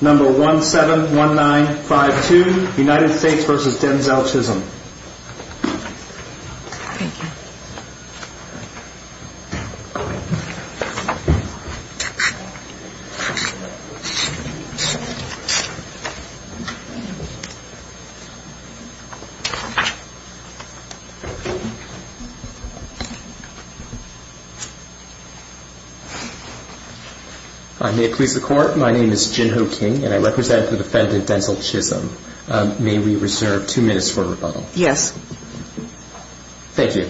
Number 171952 United States v. Denzel Chisholm May it please the Court, my name is Jin Ho King and I represent the defendant Denzel Chisholm. May we reserve two minutes for rebuttal? Yes. Thank you.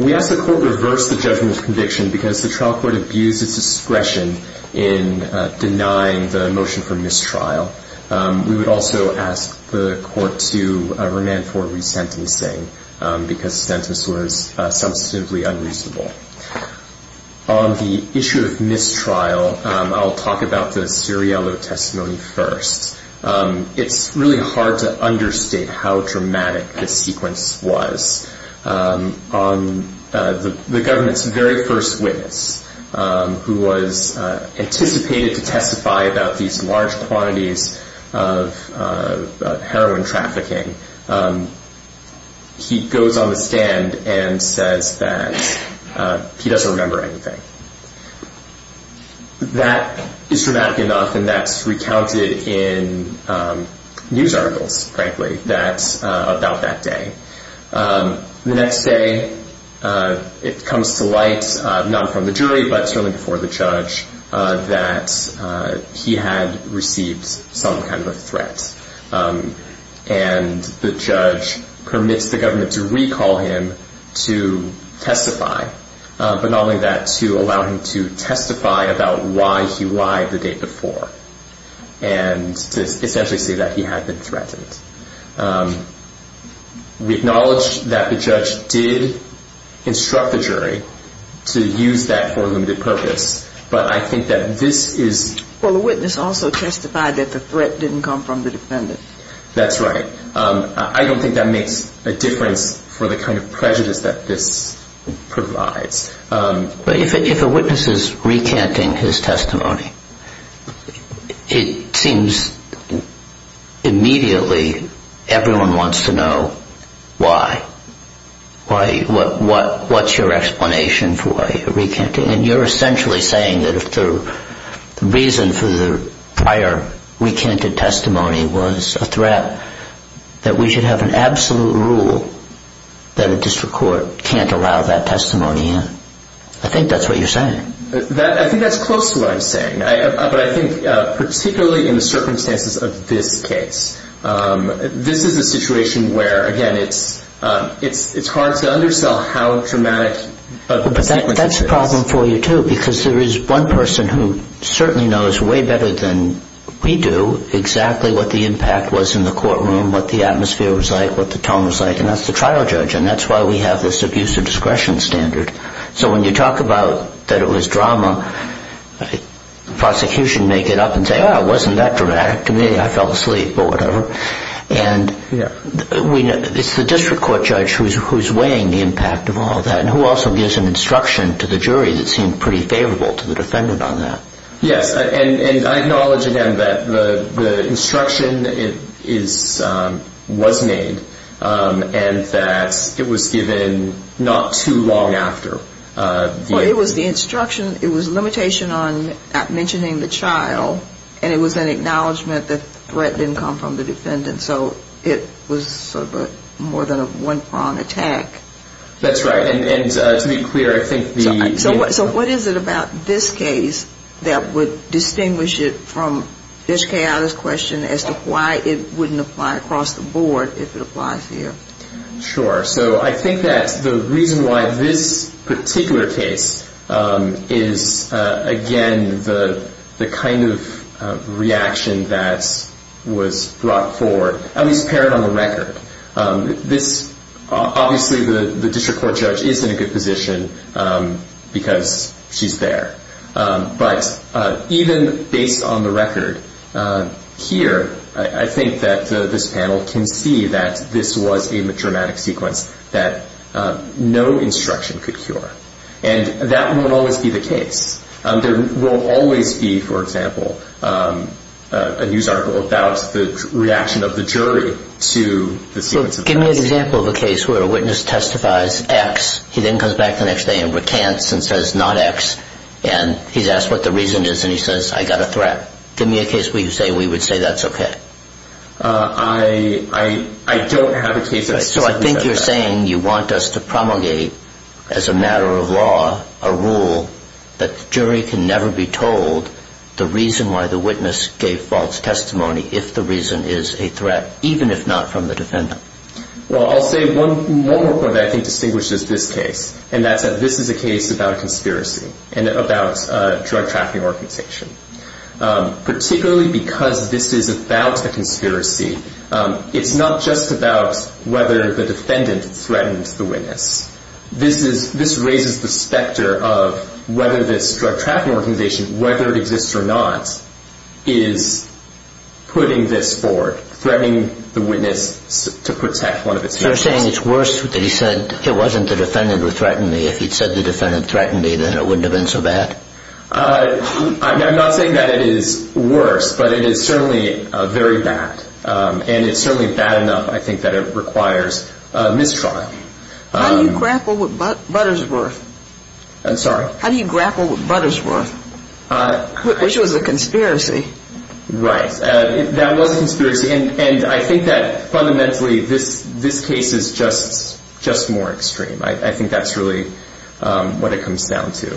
We ask the Court to reverse the judgment of conviction because the trial court abused its discretion in denying the motion for mistrial. We would also ask the Court to remand for resentencing because the sentence was substantively unreasonable. On the issue of mistrial, I'll talk about the It's really hard to understate how dramatic this sequence was. The government's very first witness, who was anticipated to testify about these large quantities of heroin trafficking, he goes on the stand and says that he doesn't remember anything. That is dramatic enough, and that's recounted in news articles, frankly, about that day. The next day, it comes to light, not from the jury, but certainly before the judge, that he had received some kind of a threat. And the judge permits the government to recall him to testify, but not only that, to allow him to and to essentially say that he had been threatened. We acknowledge that the judge did instruct the jury to use that for a limited purpose, but I think that this is... Well, the witness also testified that the threat didn't come from the defendant. That's right. I don't think that makes a difference for the kind of prejudice that this provides. But if a witness is recanting his testimony, it seems immediately everyone wants to know why. What's your explanation for why you're recanting? And you're essentially saying that if the reason for the prior recanted testimony was a threat, that we should have an absolute rule that a district court can't allow that testimony in. I think that's what you're saying. I think that's close to what I'm saying, but I think particularly in the circumstances of this case, this is a situation where, again, it's hard to undersell how dramatic... But that's a problem for you too, because there is one person who certainly knows way better than we do exactly what the impact was in the courtroom, what the atmosphere was like, what the tone was like, and that's the trial judge. And that's why we have this abuse of discretion standard. So when you talk about that it was drama, prosecution may get up and say, oh, it wasn't that dramatic to me. I fell asleep or whatever. And it's the district court judge who's weighing the impact of all that and who also gives an instruction to the jury that seemed pretty favorable to the defendant on that. Yes. And I acknowledge, again, that the instruction was made and that it was given not too long after. Well, it was the instruction. It was a limitation on mentioning the child, and it was an acknowledgement that the threat didn't come from the defendant. So it was sort of more than a one-pronged attack. That's right. And to be clear, I think the... So what is it about this case that would distinguish it from this chaotic question as to why it wouldn't apply across the board if it applies here? Sure. So I think that the reason why this particular case is, again, the kind of reaction that was brought forward, at least paired on the record. This, obviously, the district court judge is in a good position because she's there. But even based on the record here, I think that this panel can see that this was a dramatic sequence that no instruction could cure. And that won't always be the case. There will always be, for example, a news article about the reaction of the jury to the sequence of facts. Give me an example of a case where a witness testifies X, he then comes back the next day and recants and says not X, and he's asked what the reason is, and he says, I got a threat. Give me a case where you say we would say that's okay. I don't have a case that says that. So I think you're saying you want us to promulgate, as a matter of law, a rule that the jury can never be told the reason why the witness gave false testimony if the reason is a threat, even if not from the defendant. Well, I'll say one more point that I think distinguishes this case, and that's that this is a case about a conspiracy and about a drug trafficking organization. Particularly because this is about a conspiracy, it's not just about whether the defendant threatened the witness. This raises the specter of whether this drug trafficking organization, whether it exists or not, is putting this forward, threatening the witness to protect one of its members. So you're saying it's worse that he said it wasn't the defendant who threatened me. If he'd said the defendant threatened me, then it wouldn't have been so bad? I'm not saying that it is worse, but it is certainly very bad. And it's certainly bad enough, I think, that it requires mistrial. How do you grapple with Buttersworth? I'm sorry? How do you grapple with Buttersworth? Which was a conspiracy. Right. That was a conspiracy. And I think that, fundamentally, this case is just more extreme. I think that's really what it comes down to.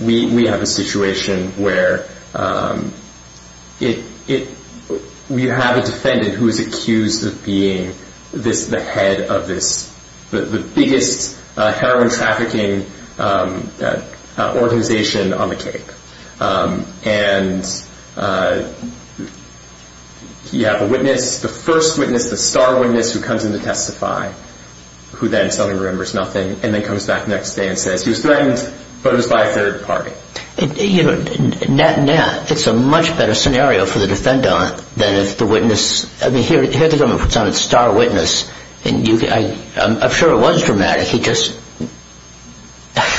We have a situation where we have a defendant who is accused of being the head of the biggest heroin trafficking organization on the Cape. And you have a witness, the first witness, the star witness, who comes in to testify, who then suddenly remembers nothing, and then comes back the next day and says he was threatened, but it was by a third party. Net-net, it's a much better scenario for the defendant than if the witness... I mean, here the government puts on its star witness, and I'm sure it was dramatic, he just...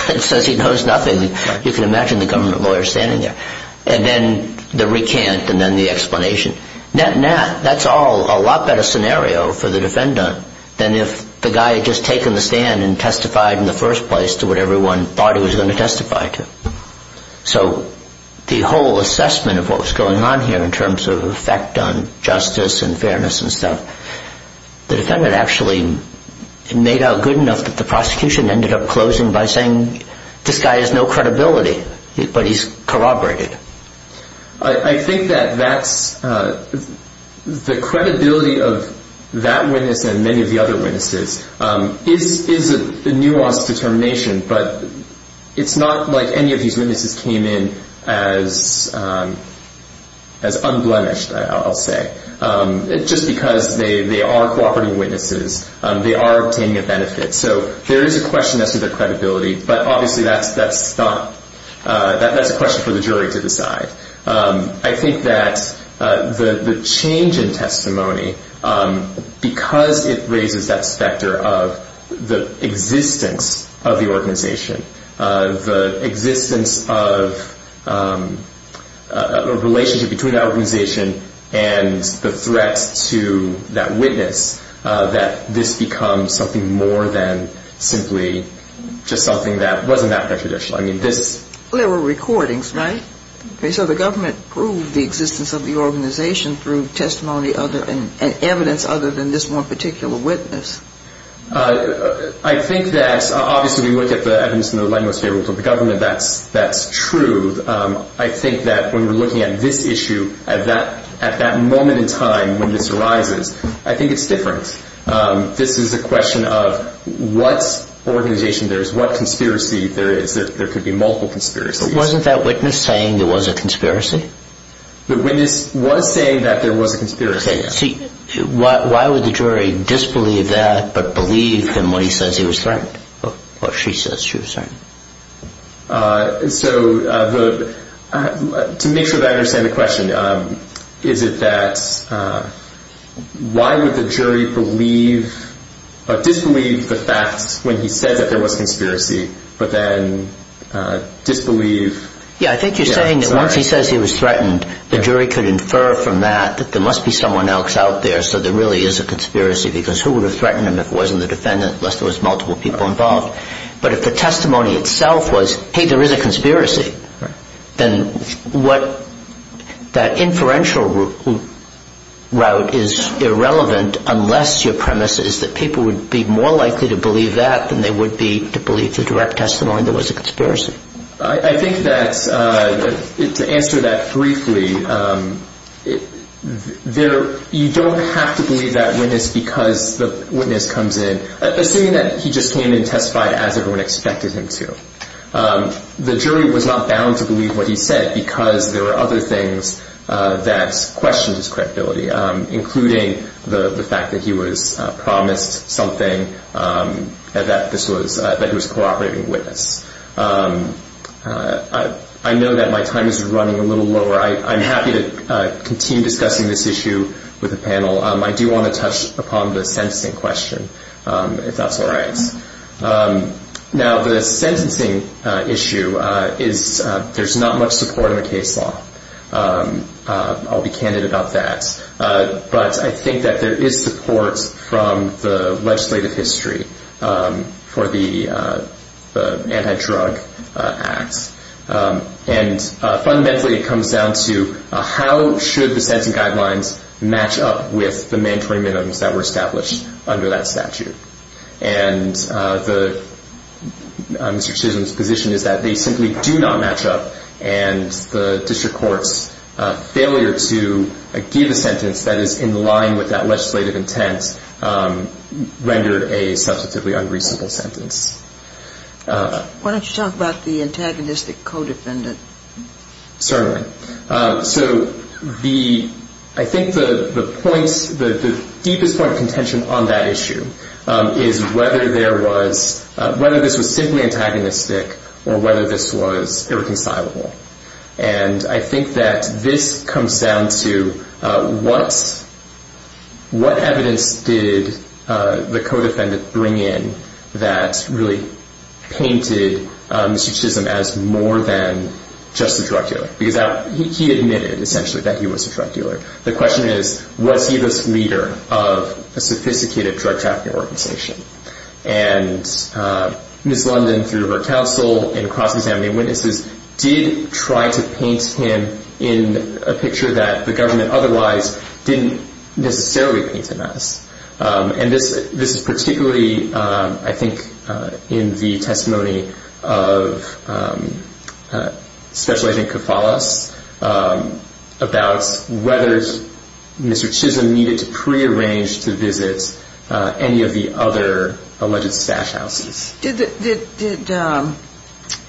It says he knows nothing. You can imagine the government lawyer standing there. And then the recant, and then the explanation. Net-net, that's all a lot better scenario for the defendant than if the guy had just taken the stand and testified in the first place to what everyone thought he was going to testify to. So the whole assessment of what was going on here in terms of effect on justice and fairness and stuff, the defendant actually made out good enough that the prosecution ended up closing by saying, this guy has no credibility, but he's corroborated. I think that that's... The credibility of that witness and many of the other witnesses is a nuanced determination, but it's not like any of these witnesses came in as unblemished, I'll say, just because they are cooperating witnesses, they are obtaining a benefit. So there is a question as to their credibility, but obviously that's a question for the jury to decide. I think that the change in testimony, because it raises that specter of the existence of the organization, the existence of a relationship between the organization and the threats to that witness, that this becomes something more than simply just something that wasn't that prejudicial. I mean, this... Well, there were recordings, right? So the government proved the existence of the organization through testimony and evidence other than this one particular witness. I think that, obviously we look at the evidence in the light most favorable to the government, that's true. I think that when we're looking at this issue, at that moment in time when this arises, I think it's different. This is a question of what organization there is, what conspiracy there is. There could be multiple conspiracies. But wasn't that witness saying there was a conspiracy? The witness was saying that there was a conspiracy. See, why would the jury disbelieve that but believe him when he says he was threatened, or she says she was threatened? So, to make sure that I understand the question, is it that why would the jury disbelieve the fact when he said that there was a conspiracy, but then disbelieve... Yeah, I think you're saying that once he says he was threatened, the jury could infer from that that there must be someone else out there, so there really is a conspiracy, because who would have threatened him if it wasn't the defendant, unless there was multiple people involved? But if the testimony itself was, hey, there is a conspiracy, then what that inferential route is irrelevant unless your premise is that people would be more likely to believe that than they would be to believe the direct testimony there was a conspiracy. I think that, to answer that briefly, you don't have to believe that witness because the witness comes in, assuming that he just came in and testified as everyone expected him to. The jury was not bound to believe what he said because there were other things that questioned his credibility, including the fact that he was promised something, and that he was a cooperating witness. I know that my time is running a little lower. I'm happy to continue discussing this issue with the panel. I do want to touch upon the sentencing question, if that's all right. Now, the sentencing issue is there's not much support in the case law. I'll be candid about that. But I think that there is support from the legislative history for the Anti-Drug Act. Fundamentally, it comes down to how should the sentencing guidelines match up with the mandatory minimums that were established under that statute. Mr. Chisholm's position is that they simply do not match up, and the district court's failure to give a sentence that is in line with that legislative intent rendered a substantively unreasonable sentence. Why don't you talk about the antagonistic co-defendant? Certainly. So the, I think the points, the deepest point of contention on that issue is whether there was, whether this was simply antagonistic or whether this was irreconcilable. And I think that this comes down to what evidence did the co-defendant bring in that really painted Mr. Chisholm as more than just a drug dealer? Because he admitted essentially that he was a drug dealer. The question is, was he this leader of a sophisticated drug trafficking organization? And Ms. London, through her counsel and cross-examining witnesses, did try to paint him in a picture that the government otherwise didn't necessarily paint And this is particularly, I think, in the testimony of Special Agent Koufalas about whether Mr. Chisholm needed to prearrange to visit any of the other alleged stash houses. Did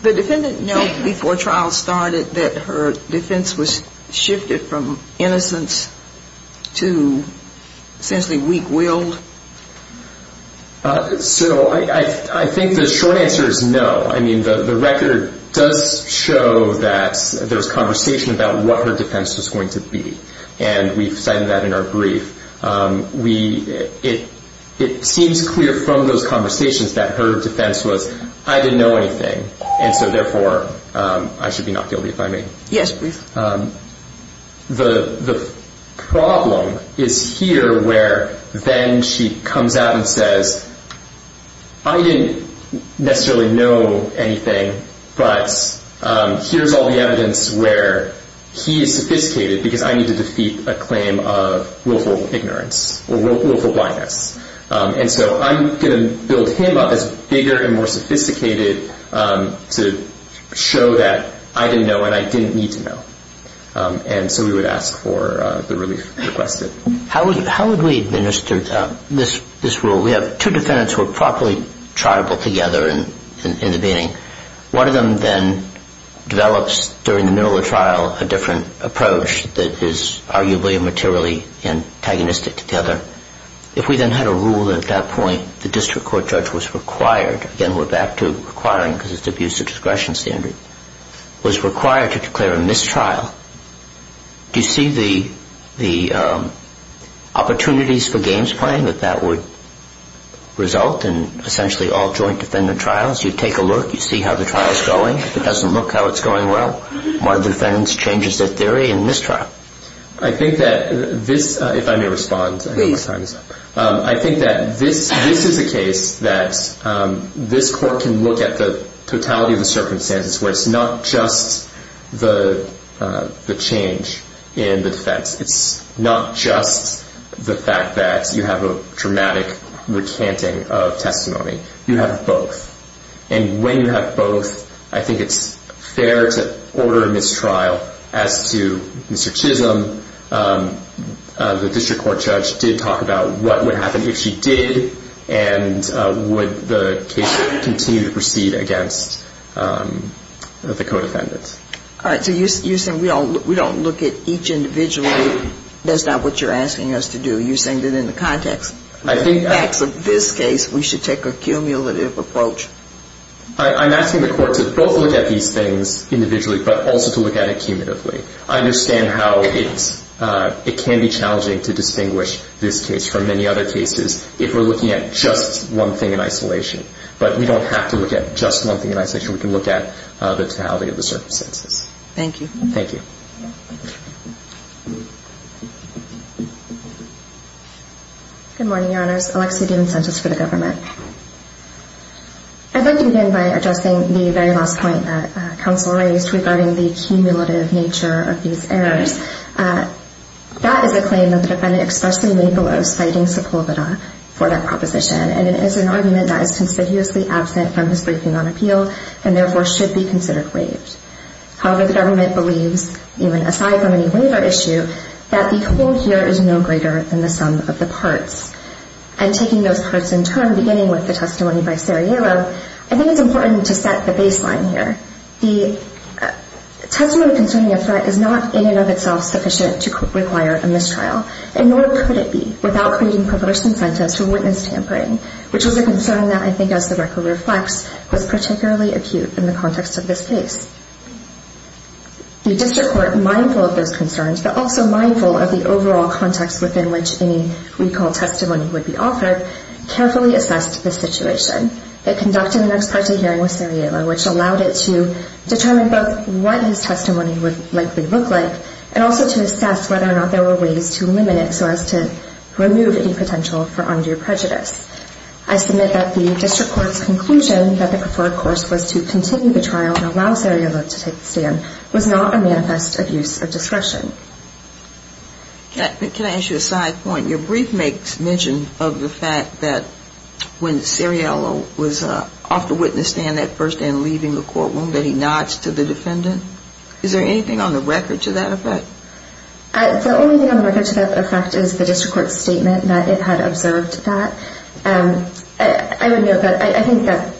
the defendant know before trial started that her defense was shifted from innocence to essentially weak-willed? So I think the short answer is no. I mean, the record does show that there's conversation about what her defense was going to be. And we've cited that in our brief. It seems clear from those conversations that her defense was, I didn't know anything. And so therefore, I should be not guilty if I may. Yes, please. So the problem is here where then she comes out and says, I didn't necessarily know anything, but here's all the evidence where he is sophisticated because I need to defeat a claim of willful ignorance or willful blindness. And so I'm going to build him up as bigger and sophisticated to show that I didn't know and I didn't need to know. And so we would ask for the relief requested. How would we administer this rule? We have two defendants who are properly triable together in the beginning. One of them then develops during the middle of the trial a different approach that is arguably materially antagonistic to the other. If we then had a rule at that point, the district court judge was required, again, we're back to requiring because it's abuse of discretion standard, was required to declare a mistrial. Do you see the opportunities for games playing that that would result in essentially all joint defendant trials? You take a look, you see how the trial is going. If it doesn't look how it's going, well, my defense changes their theory and mistrial. I think that this, if I may respond, I think that this is a case that this court can look at the totality of the circumstances where it's not just the change in the defense. It's not just the fact that you have a dramatic recanting of testimony. You have both. And when you have both, I think it's fair to order a mistrial. As to Mr. Chisholm, the district court judge did talk about what would happen if she did and would the case continue to proceed against the co-defendant. All right. So you're saying we don't look at each individually. That's not what you're asking us to do. You're saying that in the context of this case, we should take a cumulative approach. I'm asking the court to both look at these things individually, but also to look at it cumulatively. I understand how it can be challenging to distinguish this case from many other cases if we're looking at just one thing in isolation. But we don't have to look at just one thing in isolation. We can look at the totality of the circumstances. Thank you. Thank you. Good morning, Your Honors. Alexia DiMincentis for the government. I'd like to begin by addressing the very last point that counsel raised regarding the cumulative nature of these errors. That is a claim that the defendant expressly made below spiting Sepulveda for that proposition. And it is an argument that is considerably absent from his briefing on appeal and therefore should be considered waived. However, the government believes, even aside from any waiver issue, that the hold here is no greater than the sum of the parts. And taking those parts in turn, beginning with the testimony by Sarajevo, I think it's important to set the baseline here. The testimony concerning a threat is not in and of itself sufficient to require a mistrial, and nor could it be without creating perverse incentives for witness tampering, which is a concern that I think, as the record reflects, was particularly acute in the context of this case. The district court, mindful of those concerns, but also mindful of the overall context within which any recall testimony would be offered, carefully assessed the situation. It conducted an ex parte hearing with Sarajevo, which allowed it to determine both what his testimony would likely look like, and also to assess whether or not there were ways to limit it so as to I submit that the district court's conclusion that the preferred course was to continue the trial and allow Sarajevo to take the stand was not a manifest abuse of discretion. Can I ask you a side point? Your brief makes mention of the fact that when Sarajevo was off the witness stand at first and leaving the courtroom, that he nods to the defendant. Is there anything on the record to that effect? The only thing on the record to that effect is the district court's statement that it had observed that. I would note that I think that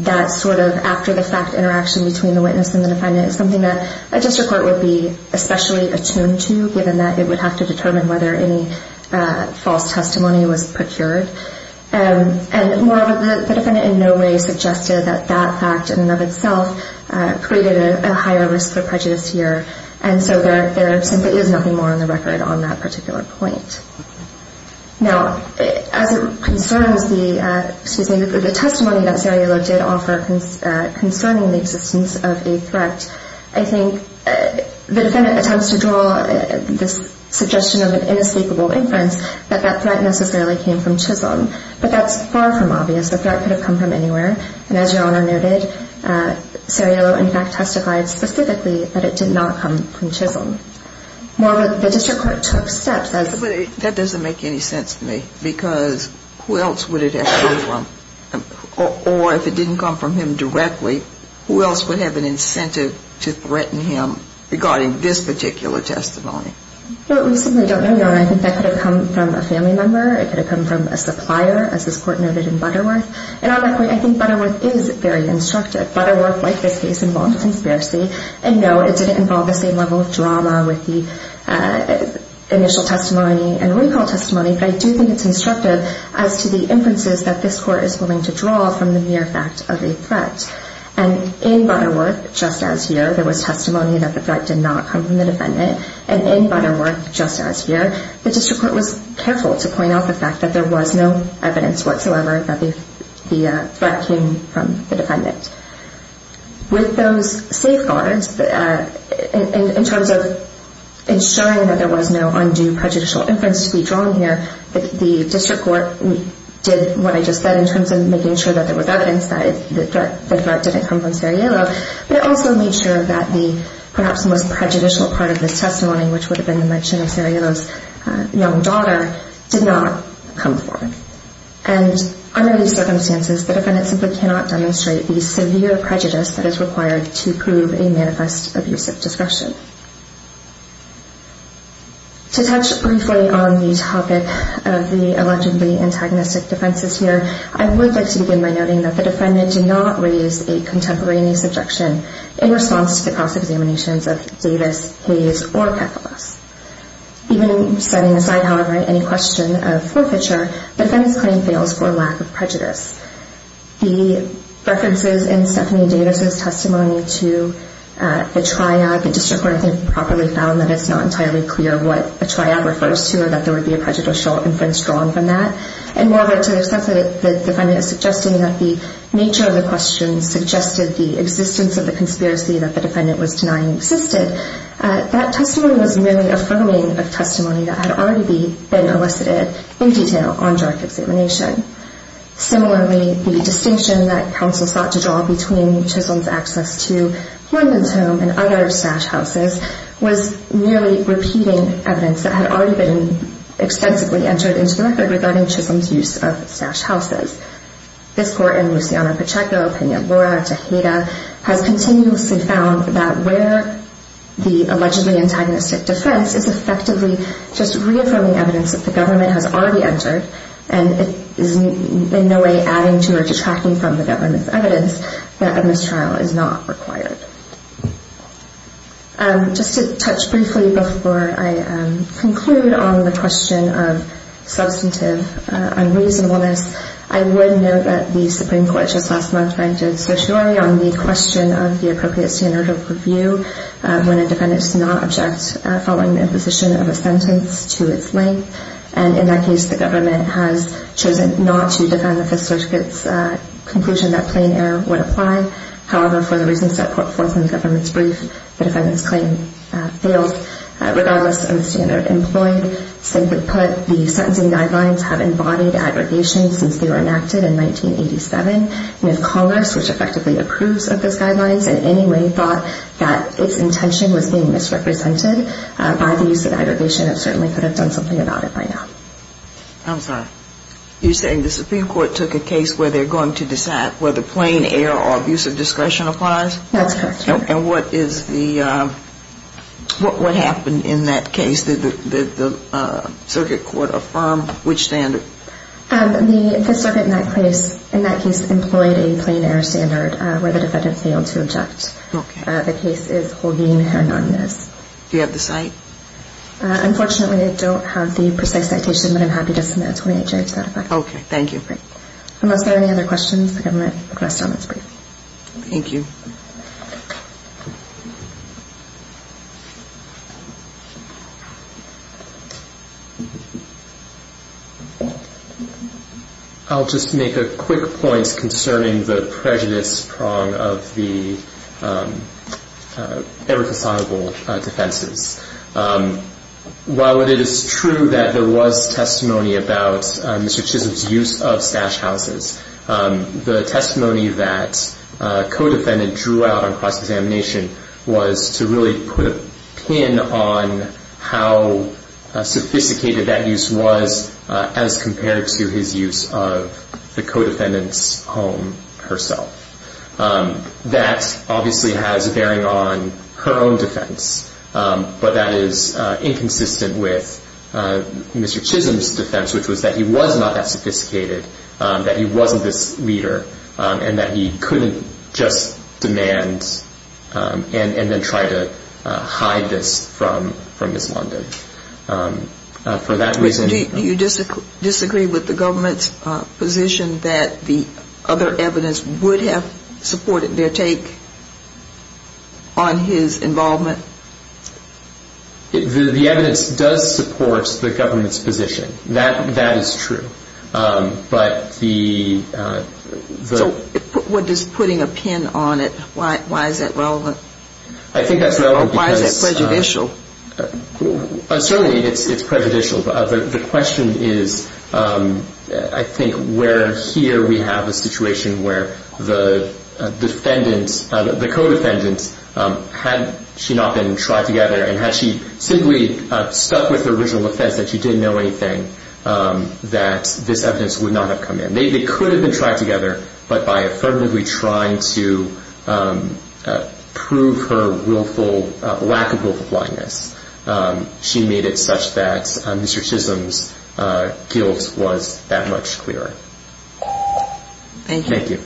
that sort of after the fact interaction between the witness and the defendant is something that a district court would be especially attuned to, given that it would have to determine whether any false testimony was procured. And moreover, the defendant in no way suggested that that fact in and of itself created a higher risk for prejudice here, and so there simply is nothing more on the record on that particular point. Now, as it concerns the, excuse me, the testimony that Sarajevo did offer concerning the existence of a threat, I think the defendant attempts to draw this suggestion of an inescapable inference that that threat necessarily came from Chisholm, but that's far from obvious. The threat could have come from anywhere, and as Your Honor noted, Sarajevo in fact testified specifically that it did not come from Chisholm. Moreover, the district court took steps as That doesn't make any sense to me, because who else would it have come from? Or if it didn't come from him directly, who else would have an incentive to threaten him regarding this particular testimony? Well, we simply don't know, Your Honor. I think that could have come from a family member. It could have come from a supplier, as this Court noted in Butterworth. And on that point, I think Butterworth is very instructive. Butterworth, like this case, involved conspiracy, and no, it didn't involve the same level of drama with the initial testimony and recall testimony, but I do think it's instructive as to the inferences that this Court is willing to draw from the mere fact of a threat. And in Butterworth, just as here, there was testimony that the threat did not come from the defendant. And in Butterworth, just as here, the district court was careful to point out the fact that there was no evidence whatsoever that the threat came from the defendant. With those safeguards, in terms of ensuring that there was no undue prejudicial inference to be drawn here, the district court did what I just said in terms of making sure that there was evidence that the threat didn't come from Sariello, but it also made sure that the perhaps most prejudicial part of this testimony, which would have been the mention of Sariello's young daughter, did not come forward. And under these circumstances, the defendant simply cannot demonstrate the severe prejudice that is required to prove a manifest abuse of discretion. To touch briefly on the topic of the allegedly antagonistic defenses here, I would like to begin by noting that the defendant did not raise a contemporaneous objection in response to the cross-examinations of Davis, Hayes, or Kefalos. Even setting aside, however, any question of forfeiture, the defendant's claim fails for lack of prejudice. The references in Stephanie Davis' testimony to the triad, the district court I think properly found that it's not entirely clear what a triad refers to or that there would be a prejudicial inference drawn from that. And moreover, to the extent that the defendant is suggesting that the nature of the question suggested the existence of the conspiracy that the defendant was denying existed, that testimony was merely affirming of testimony that had already been elicited in detail on direct examination. Similarly, the distinction that counsel sought to draw between Chisholm's access to Horndon's home and other stash houses was merely repeating evidence that had already been extensively entered into the record regarding Chisholm's use of stash houses. This and Luciano Pacheco, Pena Borja, Tejeda, has continuously found that where the allegedly antagonistic defense is effectively just reaffirming evidence that the government has already entered and is in no way adding to or detracting from the government's evidence, that a mistrial is not required. Just to touch briefly before I conclude on the question of the appropriate standard of review when a defendant does not object following the imposition of a sentence to its length. And in that case, the government has chosen not to defend the Fifth Circuit's conclusion that plain error would apply. However, for the reasons that put forth in the government's brief, the defendant's claim fails regardless of the standard employed. Simply put, the sentencing guidelines have embodied aggregation since they were enacted in 1987. And if Congress, which effectively approves of those guidelines, in any way thought that its intention was being misrepresented by the use of aggregation, it certainly could have done something about it by now. I'm sorry. You're saying the Supreme Court took a case where they're going to decide whether plain error or abuse of discretion applies? That's correct. And what happened in that case? Did the Circuit Court affirm which standard? The Fifth Circuit in that case employed a plain error standard where the defendant failed to object. The case is Holguin-Hernandez. Do you have the cite? Unfortunately, I don't have the precise citation, but I'm happy to submit a 28-J to that effect. Okay. Thank you. Unless there are any other questions, the government requests on this brief. Thank you. I'll just make a quick point concerning the prejudice prong of the ever-faconable defenses. While it is true that there was testimony about Mr. Chisholm's use of stash houses, the testimony that a co-defendant drew out on cross-examination was to really put a pin on how sophisticated that use was as compared to his use of the co-defendant's home herself. That obviously has bearing on her own defense, but that is inconsistent with Mr. Chisholm's defense, which was that he was not that sophisticated, that he wasn't this leader, and that he couldn't just demand and then try to hide this from Ms. London. Do you disagree with the government's position that the other evidence would have supported their take on his involvement? The evidence does support the government's position. That is true. But the... So what does putting a pin on it, why is that relevant? I think that's relevant because... Why is that prejudicial? Certainly it's prejudicial. The question is, I think, where here we have a situation where the defendant, the co-defendant, had she not been tried together and had she simply stuck with the original offense that she didn't know anything, that this evidence would not have come in. They could have been tried together, but by affirmatively trying to prove her willful, lack of willful blindness, she made it such that Mr. Chisholm's guilt was that much clearer. Thank you.